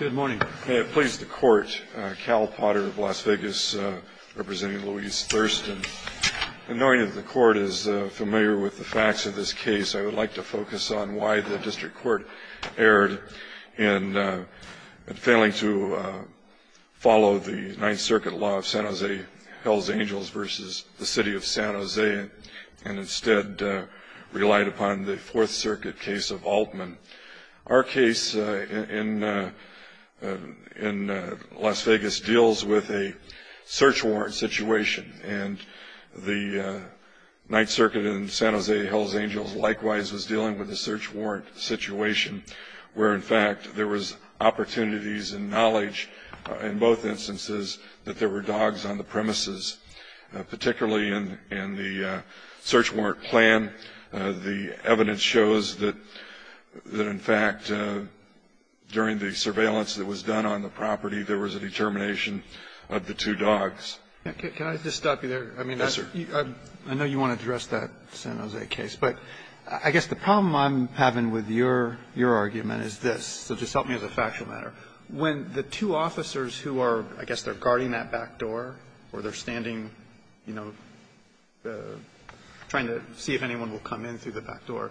Good morning. May it please the Court, Cal Potter of Las Vegas representing Louise Thurston. In knowing that the Court is familiar with the facts of this case, I would like to focus on why the District Court erred in failing to follow the Ninth Circuit law of San Jose Hells Angels versus the City of San Jose and instead relied upon the Fourth Circuit case of Altman. Our case in Las Vegas deals with a search warrant situation and the Ninth Circuit in San Jose Hells Angels likewise was dealing with a search warrant situation where in fact there was opportunities and knowledge in both instances that there were dogs on the premises. Particularly in the search warrant plan, the evidence shows that in fact during the surveillance that was done on the property, there was a determination of the two dogs. Can I just stop you there? Yes, sir. I know you want to address that San Jose case, but I guess the problem I'm having with your argument is this, so just help me as a factual matter. When the two officers who are, I guess they're guarding that back door or they're standing, you know, trying to see if anyone will come in through the back door,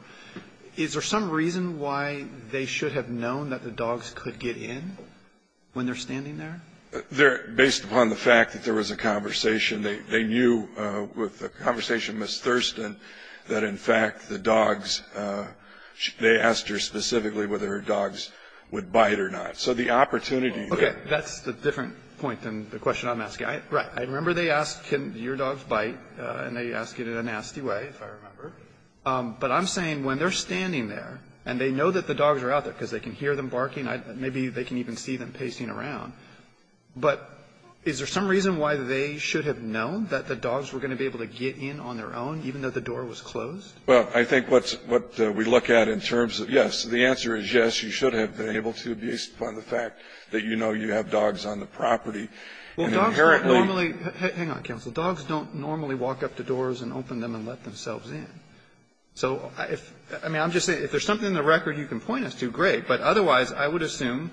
is there some reason why they should have known that the dogs could get in when they're standing there? Based upon the fact that there was a conversation, they knew with the conversation with Ms. Thurston that in fact the dogs, they asked her specifically whether her dogs would bite or not. So the opportunity there. Okay. That's a different point than the question I'm asking. Right. I remember they asked, can your dogs bite, and they asked it in a nasty way, if I remember. But I'm saying when they're standing there and they know that the dogs are out there because they can hear them barking, maybe they can even see them pacing around, but is there some reason why they should have known that the dogs were going to be able to get in on their own, even though the door was closed? Well, I think what's we look at in terms of, yes, the answer is yes, you should have been able to based upon the fact that you know you have dogs on the property. And inherently. Well, dogs don't normally, hang on, counsel. Dogs don't normally walk up to doors and open them and let themselves in. So if, I mean, I'm just saying if there's something in the record you can point us to, great, but otherwise I would assume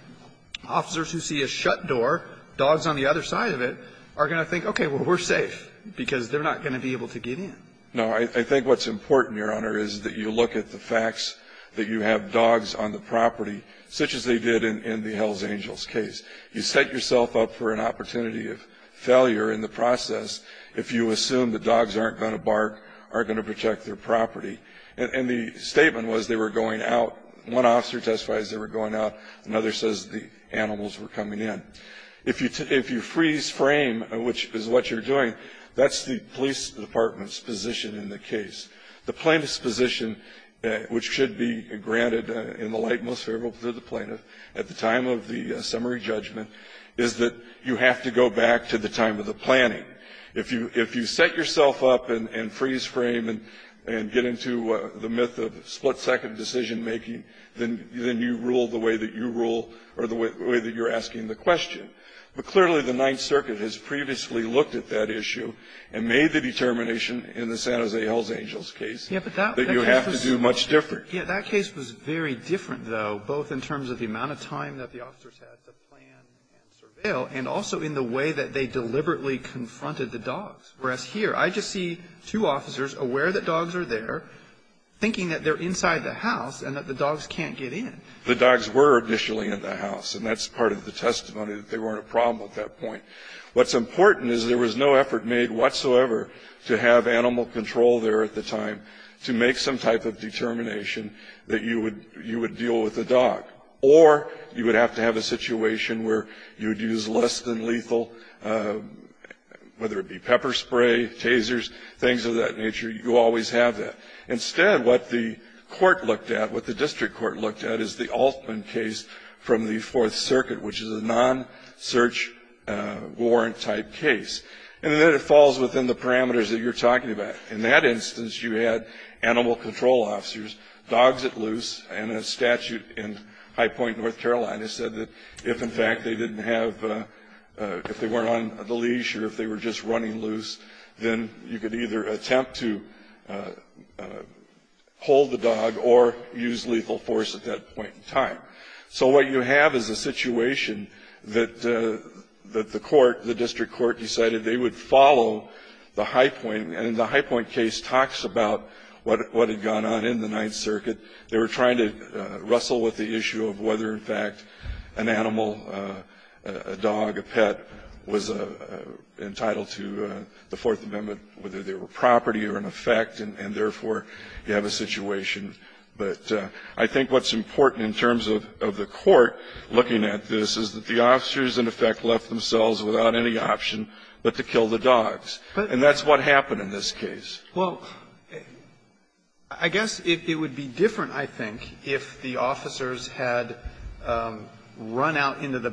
officers who see a shut door, dogs on the other side of it, are going to think, okay, well, we're safe, because they're not going to be able to get in. No. I think what's important, Your Honor, is that you look at the facts that you have dogs on the property, such as they did in the Hells Angels case. You set yourself up for an opportunity of failure in the process if you assume that dogs aren't going to bark, aren't going to protect their property. And the statement was they were going out. One officer testifies they were going out. Another says the animals were coming in. If you freeze frame, which is what you're doing, that's the police department's position in the case. The plaintiff's position, which should be granted in the light most favorable to the plaintiff at the time of the summary judgment, is that you have to go back to the time of the planning. If you set yourself up and freeze frame and get into the myth of split-second decision-making, then you rule the way that you rule or the way that you're asking the question. But clearly, the Ninth Circuit has previously looked at that issue and made the determination in the San Jose Hells Angels case that you have to do much different. Yeah. That case was very different, though, both in terms of the amount of time that the Whereas here, I just see two officers aware that dogs are there, thinking that they're inside the house and that the dogs can't get in. The dogs were initially in the house, and that's part of the testimony that they weren't a problem at that point. What's important is there was no effort made whatsoever to have animal control there at the time to make some type of determination that you would deal with the dog, or you would have to have a situation where you would use less than lethal whether it be pepper spray, tasers, things of that nature. You always have that. Instead, what the court looked at, what the district court looked at, is the Altman case from the Fourth Circuit, which is a non-search warrant-type case. And then it falls within the parameters that you're talking about. In that instance, you had animal control officers, dogs at loose, and a statute in or if they were just running loose, then you could either attempt to hold the dog or use lethal force at that point in time. So what you have is a situation that the court, the district court, decided they would follow the Highpoint, and the Highpoint case talks about what had gone on in the Ninth Circuit. They were trying to wrestle with the issue of whether, in fact, an animal, a dog, a dog was entitled to the Fourth Amendment, whether they were property or an effect, and therefore, you have a situation. But I think what's important in terms of the court looking at this is that the officers, in effect, left themselves without any option but to kill the dogs. And that's what happened in this case. Well, I guess it would be different, I think, if the officers had run out into the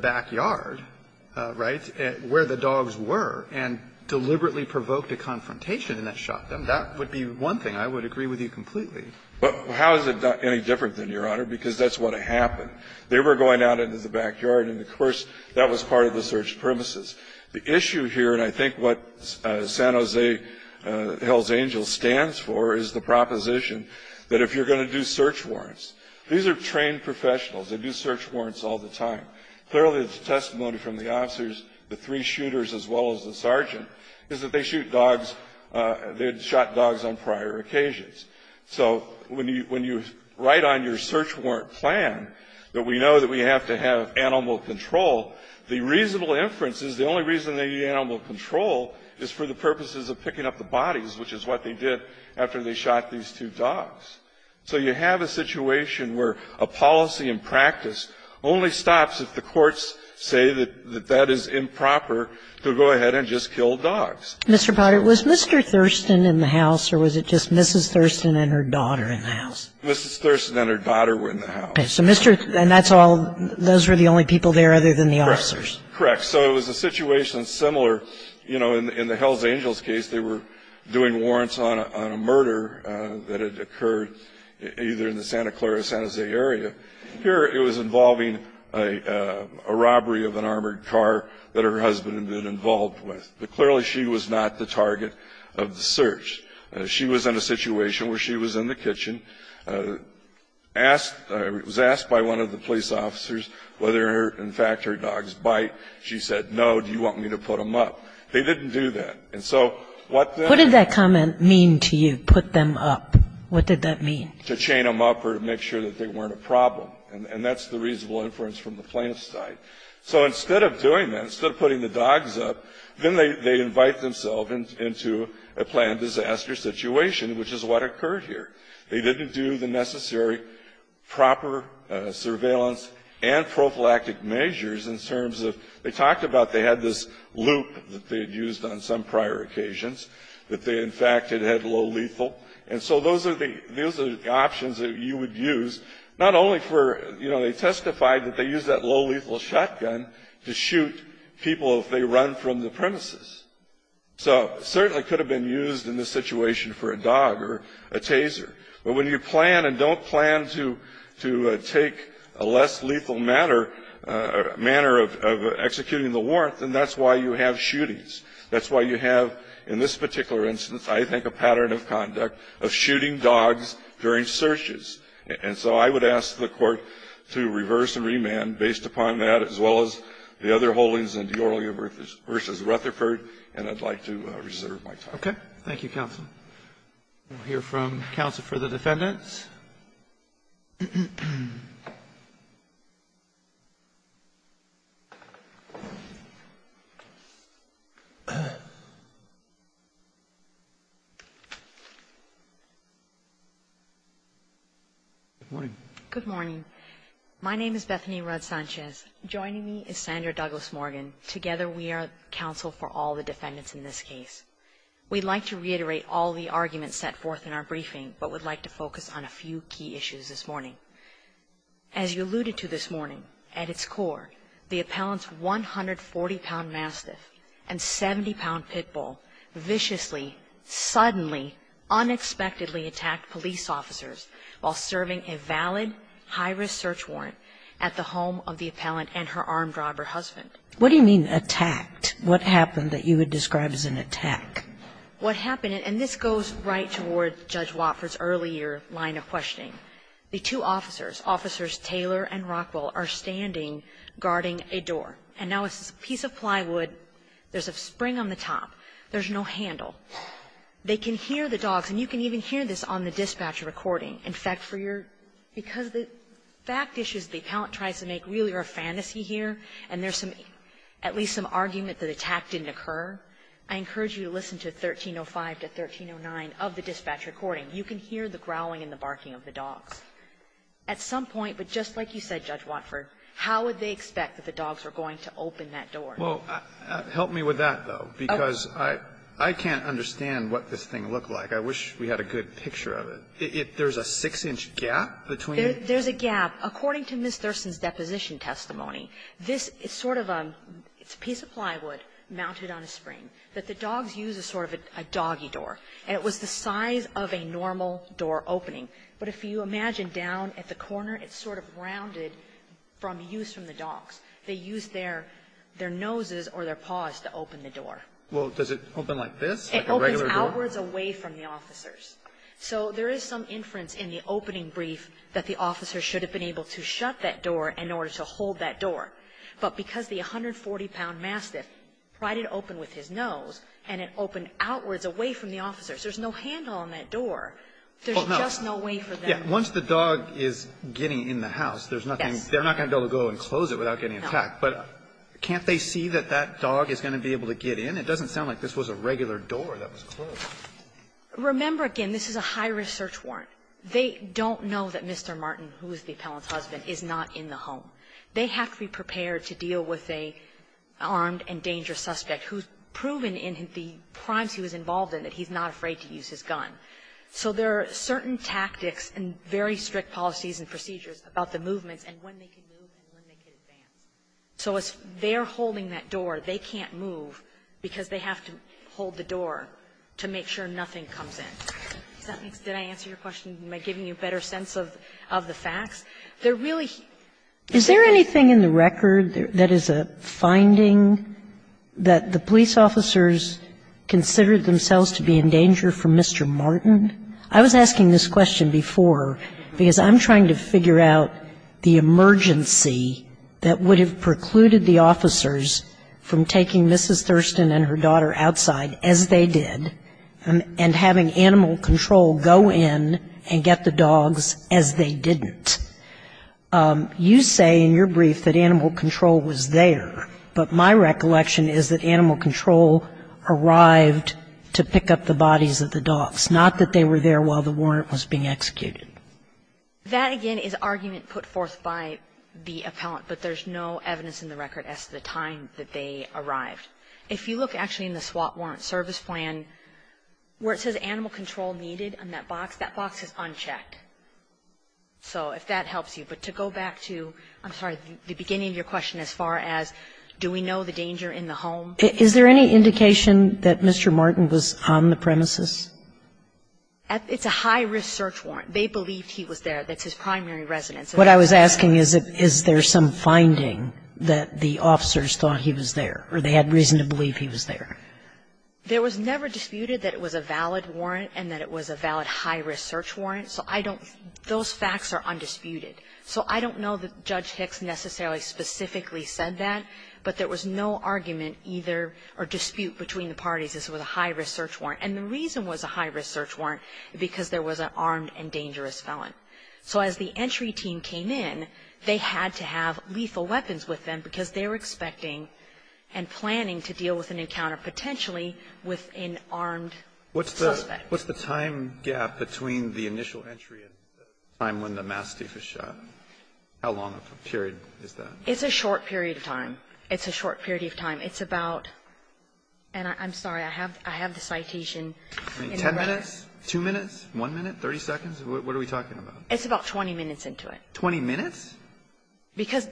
where the dogs were and deliberately provoked a confrontation and that shot them. That would be one thing. I would agree with you completely. Well, how is it any different than, Your Honor? Because that's what happened. They were going out into the backyard, and, of course, that was part of the search premises. The issue here, and I think what San Jose Hells Angels stands for, is the proposition that if you're going to do search warrants, these are trained professionals. They do search warrants all the time. Clearly, the testimony from the officers, the three shooters as well as the sergeant, is that they shoot dogs, they had shot dogs on prior occasions. So when you write on your search warrant plan that we know that we have to have animal control, the reasonable inference is the only reason they need animal control is for the purposes of picking up the bodies, which is what they did after they shot these two dogs. So you have a situation where a policy in practice only stops if the courts say that that is improper to go ahead and just kill dogs. Mr. Potter, was Mr. Thurston in the house, or was it just Mrs. Thurston and her daughter in the house? Mrs. Thurston and her daughter were in the house. Okay. So Mr. And that's all those were the only people there other than the officers? Correct. So it was a situation similar, you know, in the Hells Angels case. They were doing warrants on a murder that had occurred either in the Santa Clara, San Jose area. Here it was involving a robbery of an armored car that her husband had been involved with. But clearly she was not the target of the search. She was in a situation where she was in the kitchen, asked, was asked by one of the police officers whether in fact her dogs bite. She said, no, do you want me to put them up? They didn't do that. And so what What did that comment mean to you, put them up? What did that mean? To chain them up or to make sure that they weren't a problem. And that's the reasonable inference from the plaintiff's side. So instead of doing that, instead of putting the dogs up, then they invite themselves into a planned disaster situation, which is what occurred here. They didn't do the necessary proper surveillance and prophylactic measures in terms of They talked about they had this loop that they had used on some prior occasions, that they in fact had had low lethal. And so those are the options that you would use, not only for, you know, they testified that they used that low lethal shotgun to shoot people if they run from the premises. So it certainly could have been used in this situation for a dog or a taser. But when you plan and don't plan to take a less lethal manner of action, executing the warrant, then that's why you have shootings. That's why you have in this particular instance, I think, a pattern of conduct of shooting dogs during searches. And so I would ask the Court to reverse and remand based upon that, as well as the other holdings in Diorio v. Rutherford, and I'd like to reserve my time. Okay. Thank you, counsel. We'll hear from counsel for the defendants. Good morning. Good morning. My name is Bethany Rudd-Sanchez. Joining me is Sandra Douglas-Morgan. Together we are counsel for all the defendants in this case. We'd like to reiterate all the arguments set forth in our briefing, but would like to focus on a few key issues this morning. As you alluded to this morning, at its core, the appellant's 140-pound mastiff and 70-pound pit bull viciously, suddenly, unexpectedly attacked police officers while serving a valid high-risk search warrant at the home of the appellant and her armed robber husband. What do you mean attacked? What happened that you would describe as an attack? And this goes right toward Judge Watford's earlier line of questioning. The two officers, Officers Taylor and Rockwell, are standing, guarding a door. And now it's a piece of plywood. There's a spring on the top. There's no handle. They can hear the dogs, and you can even hear this on the dispatcher recording. In fact, for your ---- because the fact issue is the appellant tries to make really a fantasy here, and there's at least some argument that the attack didn't occur, I encourage you to listen to 1305 to 1309 of the dispatch recording. You can hear the growling and the barking of the dogs. At some point, but just like you said, Judge Watford, how would they expect that the dogs were going to open that door? Well, help me with that, though, because I can't understand what this thing looked like. I wish we had a good picture of it. There's a 6-inch gap between it? There's a gap. According to Ms. Thurston's deposition testimony, this is sort of a ---- it's a piece of plywood mounted on a spring that the dogs use as sort of a doggy door, and it was the size of a normal door opening. But if you imagine down at the corner, it's sort of rounded from use from the dogs. They use their noses or their paws to open the door. Well, does it open like this, like a regular door? It opens outwards away from the officers. So there is some inference in the opening brief that the officers should have been able to shut that door in order to hold that door. But because the 140-pound mastiff tried to open with his nose, and it opened outwards away from the officers, there's no handle on that door. There's just no way for them to do it. Once the dog is getting in the house, there's nothing to do. They're not going to be able to go and close it without getting attacked. But can't they see that that dog is going to be able to get in? It doesn't sound like this was a regular door that was closed. Remember, again, this is a high-risk search warrant. They don't know that Mr. Martin, who is the appellant's husband, is not in the home. They have to be prepared to deal with an armed and dangerous suspect who's proven in the crimes he was involved in that he's not afraid to use his gun. So there are certain tactics and very strict policies and procedures about the movements and when they can move and when they can advance. So as they're holding that door, they can't move because they have to hold the door to make sure nothing comes in. Did I answer your question by giving you a better sense of the facts? Is there anything in the record that is a finding that the police officers considered themselves to be in danger from Mr. Martin? I was asking this question before because I'm trying to figure out the emergency that would have precluded the officers from taking Mrs. Thurston and her daughter outside, as they did, and having animal control go in and get the dogs as they didn't. You say in your brief that animal control was there, but my recollection is that animal control arrived to pick up the bodies of the dogs, not that they were there while the warrant was being executed. That, again, is argument put forth by the appellant, but there's no evidence in the record as to the time that they arrived. If you look actually in the SWAT warrant service plan, where it says animal control needed in that box, that box is unchecked. So if that helps you. But to go back to the beginning of your question as far as do we know the danger in the home? Is there any indication that Mr. Martin was on the premises? It's a high-risk search warrant. They believed he was there. That's his primary residence. What I was asking is, is there some finding that the officers thought he was there or they had reason to believe he was there? There was never disputed that it was a valid warrant and that it was a valid high-risk search warrant. So I don't – those facts are undisputed. So I don't know that Judge Hicks necessarily specifically said that, but there was no argument either or dispute between the parties as to whether it was a high-risk search warrant. And the reason it was a high-risk search warrant is because there was an armed and dangerous felon. So as the entry team came in, they had to have lethal weapons with them because they were expecting and planning to deal with an encounter potentially with an armed suspect. What's the time gap between the initial entry and the time when the mass thief was shot? How long a period is that? It's a short period of time. It's a short period of time. It's about – and I'm sorry. I have the citation. Ten minutes? Two minutes? One minute? 30 seconds? What are we talking about? It's about 20 minutes into it. 20 minutes? Because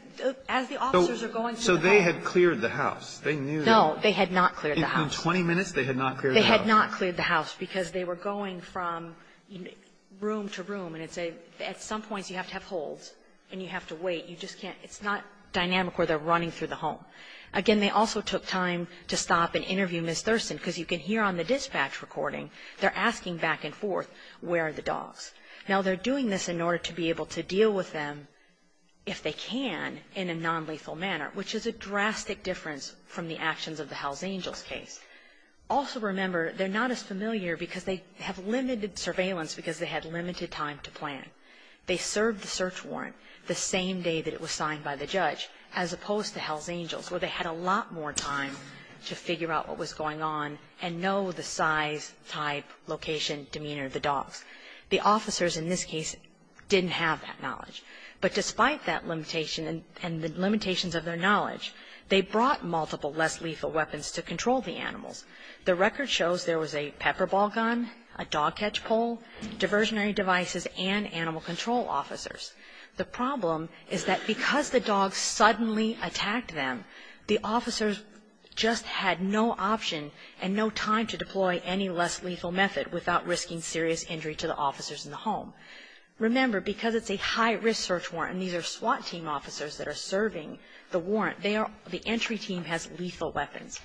as the officers are going through the house. So they had cleared the house. They knew that. They had not cleared the house. In 20 minutes, they had not cleared the house. Because they were going from room to room, and it's a – at some points, you have to have holds, and you have to wait. You just can't – it's not dynamic where they're running through the home. Again, they also took time to stop and interview Ms. Thurston because you can hear on the dispatch recording they're asking back and forth, where are the dogs? Now, they're doing this in order to be able to deal with them if they can in a nonlethal manner, which is a drastic difference from the actions of the Hells Angels case. Also remember, they're not as familiar because they have limited surveillance because they had limited time to plan. They served the search warrant the same day that it was signed by the judge, as opposed to Hells Angels, where they had a lot more time to figure out what was going on and know the size, type, location, demeanor of the dogs. The officers in this case didn't have that knowledge. But despite that limitation and the limitations of their knowledge, they brought multiple less lethal weapons to control the animals. The record shows there was a pepper ball gun, a dog catch pole, diversionary devices, and animal control officers. The problem is that because the dogs suddenly attacked them, the officers just had no option and no time to deploy any less lethal method without risking serious injury to the officers in the home. Remember, because it's a high-risk search warrant, and these are SWAT team officers that are serving the warrant, they are the entry team has lethal weapons.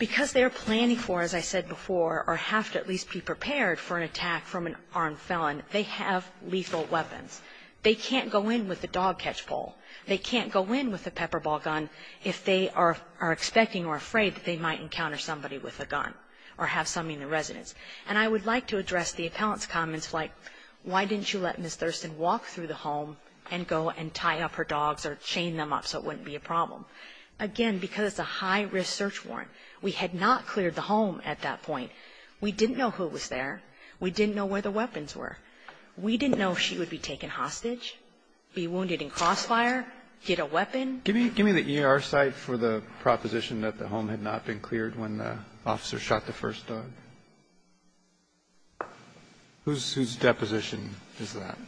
Because they are planning for, as I said before, or have to at least be prepared for an attack from an armed felon, they have lethal weapons. They can't go in with a dog catch pole. They can't go in with a pepper ball gun if they are expecting or afraid that they might encounter somebody with a gun or have somebody in the residence. And I would like to address the appellant's comments like, why didn't you let Ms. McLaughlin have her dogs or chain them up so it wouldn't be a problem? Again, because it's a high-risk search warrant. We had not cleared the home at that point. We didn't know who was there. We didn't know where the weapons were. We didn't know if she would be taken hostage, be wounded in crossfire, get a weapon. Kennedy. Give me the ER site for the proposition that the home had not been cleared when the officer shot the first dog. Whose deposition is that?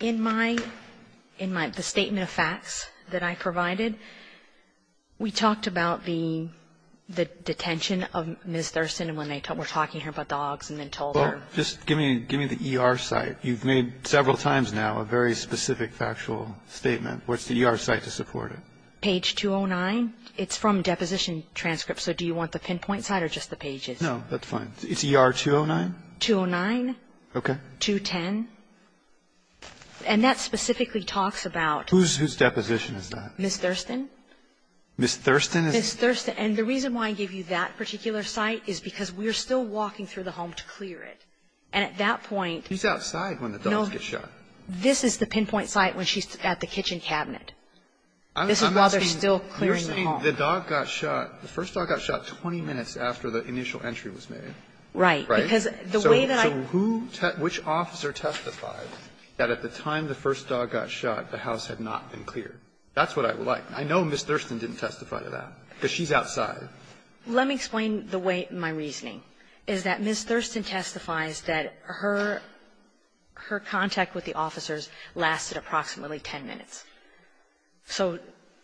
In my the statement of facts that I provided, we talked about the detention of Ms. Thurston when they were talking here about dogs and then told her. Well, just give me the ER site. You've made several times now a very specific factual statement. What's the ER site to support it? Page 209. It's from Deposition Transparency. I don't have the transcript, so do you want the pinpoint site or just the pages? No, that's fine. It's ER 209? 209. Okay. 210. And that specifically talks about. Whose deposition is that? Ms. Thurston. Ms. Thurston is. Ms. Thurston. And the reason why I gave you that particular site is because we are still walking through the home to clear it. And at that point. She's outside when the dogs get shot. This is the pinpoint site when she's at the kitchen cabinet. This is while they're still clearing the home. You're saying the dog got shot. The first dog got shot 20 minutes after the initial entry was made. Right. Because the way that I. So who. Which officer testified that at the time the first dog got shot, the house had not been cleared? That's what I would like. I know Ms. Thurston didn't testify to that because she's outside. Let me explain the way my reasoning is that Ms. Thurston testifies that her contact with the officers lasted approximately 10 minutes. So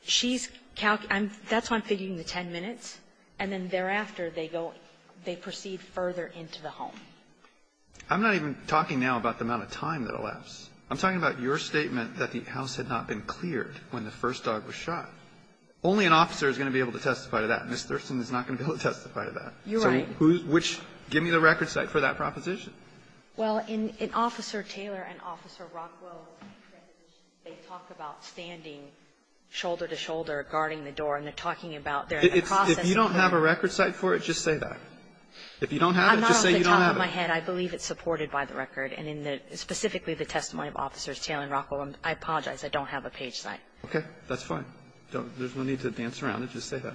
she's calculating. That's why I'm figuring the 10 minutes. And then thereafter, they go. They proceed further into the home. I'm not even talking now about the amount of time that elapsed. I'm talking about your statement that the house had not been cleared when the first dog was shot. Only an officer is going to be able to testify to that. Ms. Thurston is not going to be able to testify to that. You're right. So who. Give me the record site for that proposition. Well, in Officer Taylor and Officer Rockwell's proposition, they talk about standing shoulder to shoulder, guarding the door, and they're talking about they're in the process of. If you don't have a record site for it, just say that. If you don't have it, just say you don't have it. I'm not off the top of my head. I believe it's supported by the record. And in the specifically the testimony of Officers Taylor and Rockwell, I apologize. I don't have a page site. Okay. That's fine. There's no need to dance around it. Just say that.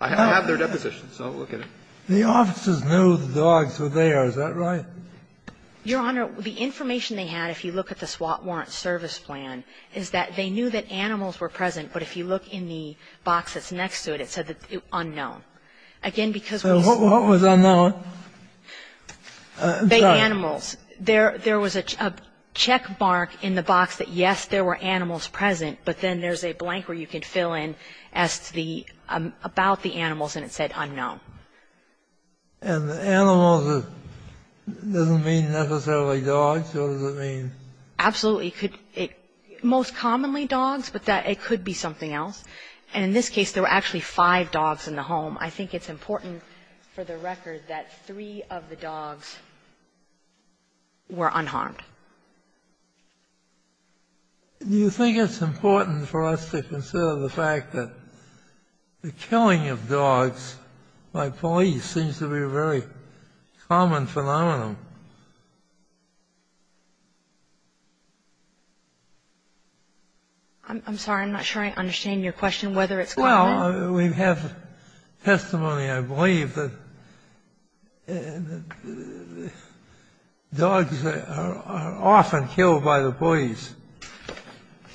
I have their deposition, so look at it. The officers knew the dogs were there. Is that right? Your Honor, the information they had, if you look at the SWAT warrant service plan, is that they knew that animals were present, but if you look in the box that's next to it, it said that it was unknown. Again, because. What was unknown? The animals. There was a check mark in the box that, yes, there were animals present, but then there's a blank where you can fill in as to the --"about the animals," and it said unknown. And the animals doesn't mean necessarily dogs? What does it mean? Absolutely. It could be most commonly dogs, but it could be something else. And in this case, there were actually five dogs in the home. I think it's important for the record that three of the dogs were unharmed. Do you think it's important for us to consider the fact that the killing of dogs by police seems to be a very common phenomenon? I'm sorry. I'm not sure I understand your question, whether it's common. Well, we have testimony, I believe, that dogs are often killed by the police.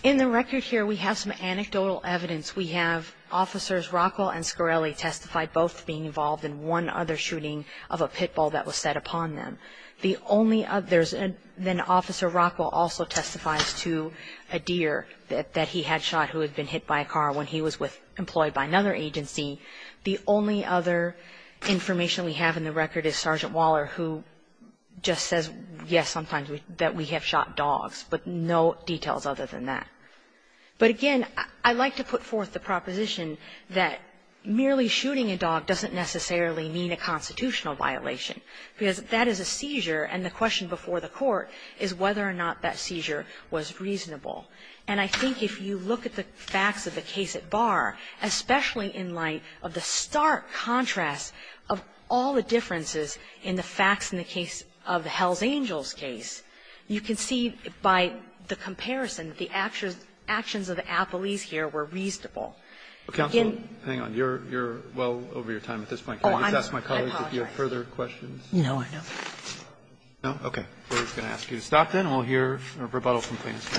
In the record here, we have some anecdotal evidence. We have Officers Rockwell and Scarelli testify both being involved in one other shooting of a pit bull that was set upon them. The only others, then Officer Rockwell also testifies to a deer that he had shot who was employed by another agency. The only other information we have in the record is Sergeant Waller who just says, yes, sometimes that we have shot dogs, but no details other than that. But, again, I'd like to put forth the proposition that merely shooting a dog doesn't necessarily mean a constitutional violation, because that is a seizure, and the question before the court is whether or not that seizure was reasonable. And I think if you look at the facts of the case at bar, especially in light of the stark contrast of all the differences in the facts in the case of the Hells Angels case, you can see by the comparison the actions of the appellees here were reasonable. Again you're well over your time at this point. Can I just ask my colleagues if you have further questions? No, I don't. No? Okay. I'm going to ask you to stop then, and we'll hear rebuttal from plaintiffs.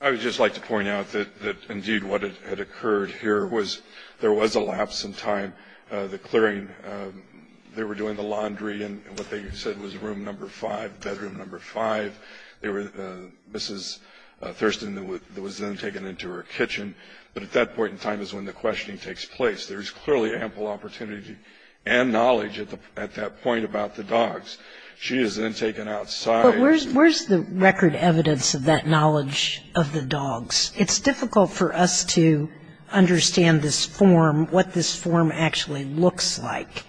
I would just like to point out that indeed what had occurred here was there was a lapse in time. The clearing, they were doing the laundry in what they said was room number 5, bedroom number 5. Mrs. Thurston was then taken into her kitchen. But at that point in time is when the questioning takes place. There's clearly ample opportunity and knowledge at that point about the dogs. She is then taken outside. But where's the record evidence of that knowledge of the dogs? It's difficult for us to understand this form, what this form actually looks like.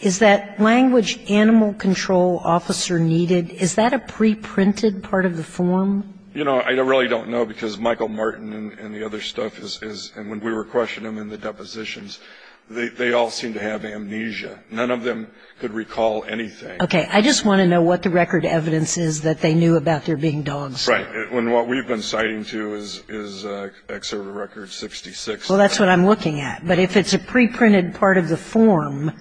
Is that language animal control officer needed? Is that a preprinted part of the form? You know, I really don't know, because Michael Martin and the other stuff is, and when we were questioning them in the depositions, they all seemed to have amnesia. None of them could recall anything. Okay. I just want to know what the record evidence is that they knew about there being dogs there. Right. And what we've been citing to is excerpt of record 66. Well, that's what I'm looking at. But if it's a preprinted part of the form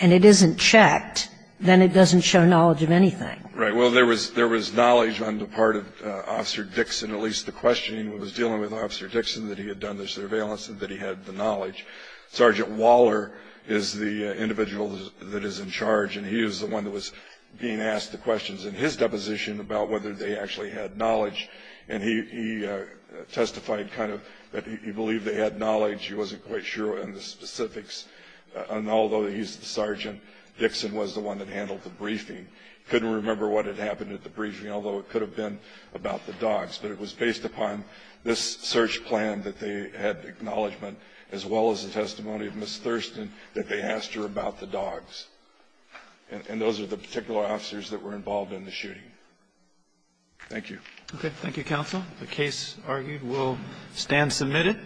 and it isn't checked, then it doesn't show knowledge of anything. Right. Well, there was knowledge on the part of Officer Dixon, at least the questioning was dealing with Officer Dixon, that he had done the surveillance and that he had the knowledge. Sergeant Waller is the individual that is in charge, and he was the one that was being asked the questions in his deposition about whether they actually had knowledge. And he testified kind of that he believed they had knowledge. He wasn't quite sure on the specifics. And although he's the sergeant, Dixon was the one that handled the briefing. He couldn't remember what had happened at the briefing, although it could have been about the dogs. But it was based upon this search plan that they had acknowledgment, as well as the testimony of Ms. Thurston, that they asked her about the dogs. And those are the particular officers that were involved in the shooting. Thank you. Okay. Thank you, counsel. The case argued will stand submitted.